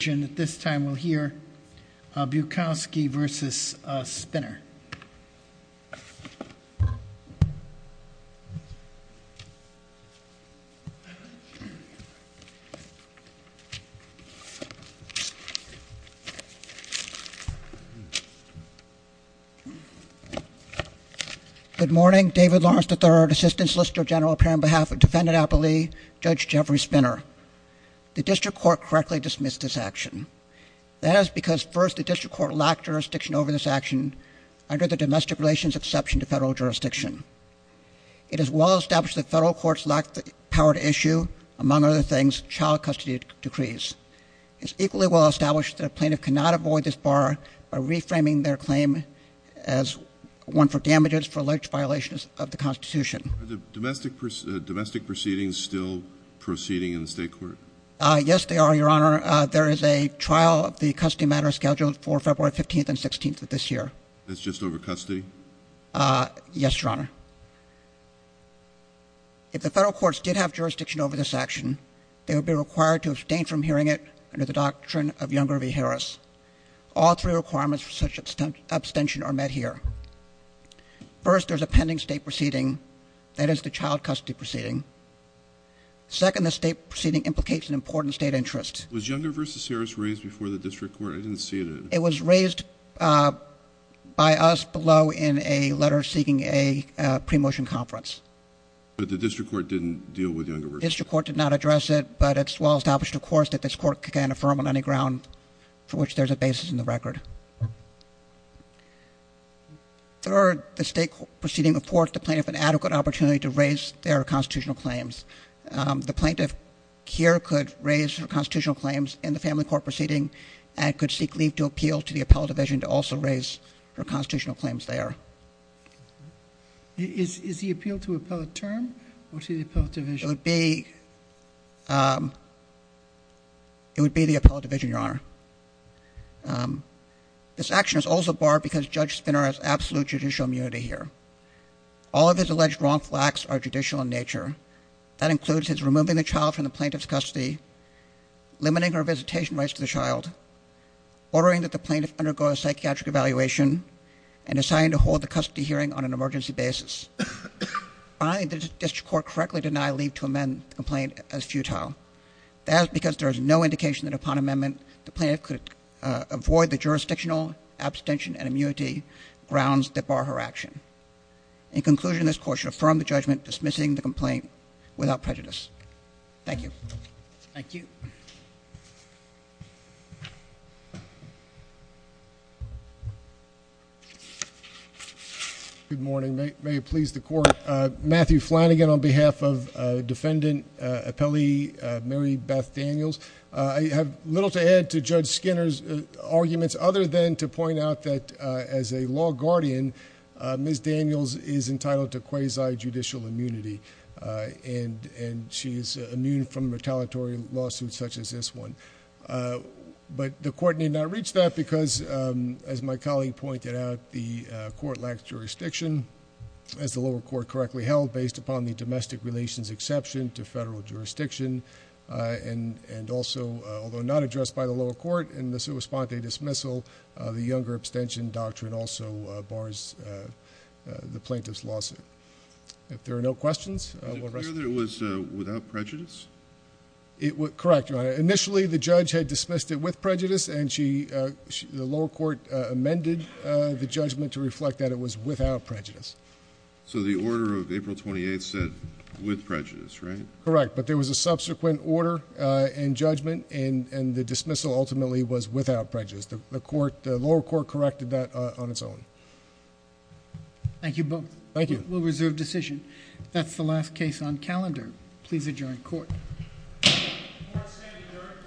Good morning, David Lawrence III, Assistant Solicitor General here on behalf of Defendant That is because first the District Court lacked jurisdiction over this action under the Domestic Relations Exception to Federal Jurisdiction. It is well established that federal courts lack the power to issue, among other things, child custody decrees. It is equally well established that a plaintiff cannot avoid this bar by reframing their claim as one for damages for alleged violations of the Constitution. Are the domestic proceedings still proceeding in the state court? Yes, they are, Your Honor. There is a trial of the custody matter scheduled for February 15th and 16th of this year. It's just over custody? Yes, Your Honor. If the federal courts did have jurisdiction over this action, they would be required to abstain from hearing it under the doctrine of Younger v. Harris. All three requirements for such abstention are met here. First, there is a pending state proceeding, that is the child custody proceeding. Second, the state proceeding implicates an important state interest. Was Younger v. Harris raised before the District Court? I didn't see it. It was raised by us below in a letter seeking a pre-motion conference. But the District Court didn't deal with Younger v. Harris? The District Court did not address it, but it's well established, of course, that this court can't affirm on any ground for which there's a basis in the record. Third, the state proceeding affords the plaintiff an adequate opportunity to raise their constitutional claims. The plaintiff here could raise her constitutional claims in the family court proceeding and could seek leave to appeal to the appellate division to also raise her constitutional claims there. Is the appeal to appellate term or to the appellate division? It would be the appellate division, Your Honor. This action is also barred because Judge Spinner has absolute judicial immunity here. All of his alleged wrongful acts are judicial in nature. That includes his removing the child from the plaintiff's custody, limiting her visitation rights to the child, ordering that the plaintiff undergo a psychiatric evaluation, and deciding to hold the custody hearing on an emergency basis. Finally, the District Court correctly denied leave to amend the complaint as futile. That is because there is no indication that upon amendment the plaintiff could avoid the jurisdictional abstention and immunity grounds that bar her action. In conclusion, this court should affirm the judgment dismissing the complaint without prejudice. Thank you. Thank you. Good morning. May it please the court. Matthew Flanagan on behalf of defendant appellee Mary Beth Daniels. I have little to add to Judge Skinner's arguments other than to point out that as a law guardian, Ms. Daniels is entitled to quasi-judicial immunity, and she is immune from retaliatory lawsuits such as this one. But the court need not reach that because, as my colleague pointed out, the court lacks jurisdiction. As the lower court correctly held, based upon the domestic relations exception to federal jurisdiction, and also, although not addressed by the lower court in the sua sponte dismissal, the younger abstention doctrine also bars the plaintiff's lawsuit. If there are no questions, we'll rest. Is it clear that it was without prejudice? Correct, Your Honor. Initially, the judge had dismissed it with prejudice, and the lower court amended the judgment to reflect that it was without prejudice. So the order of April 28th said with prejudice, right? Correct, but there was a subsequent order and judgment, and the dismissal ultimately was without prejudice. The lower court corrected that on its own. Thank you both. Thank you. We'll reserve decision. That's the last case on calendar. Please adjourn court. Court is adjourned.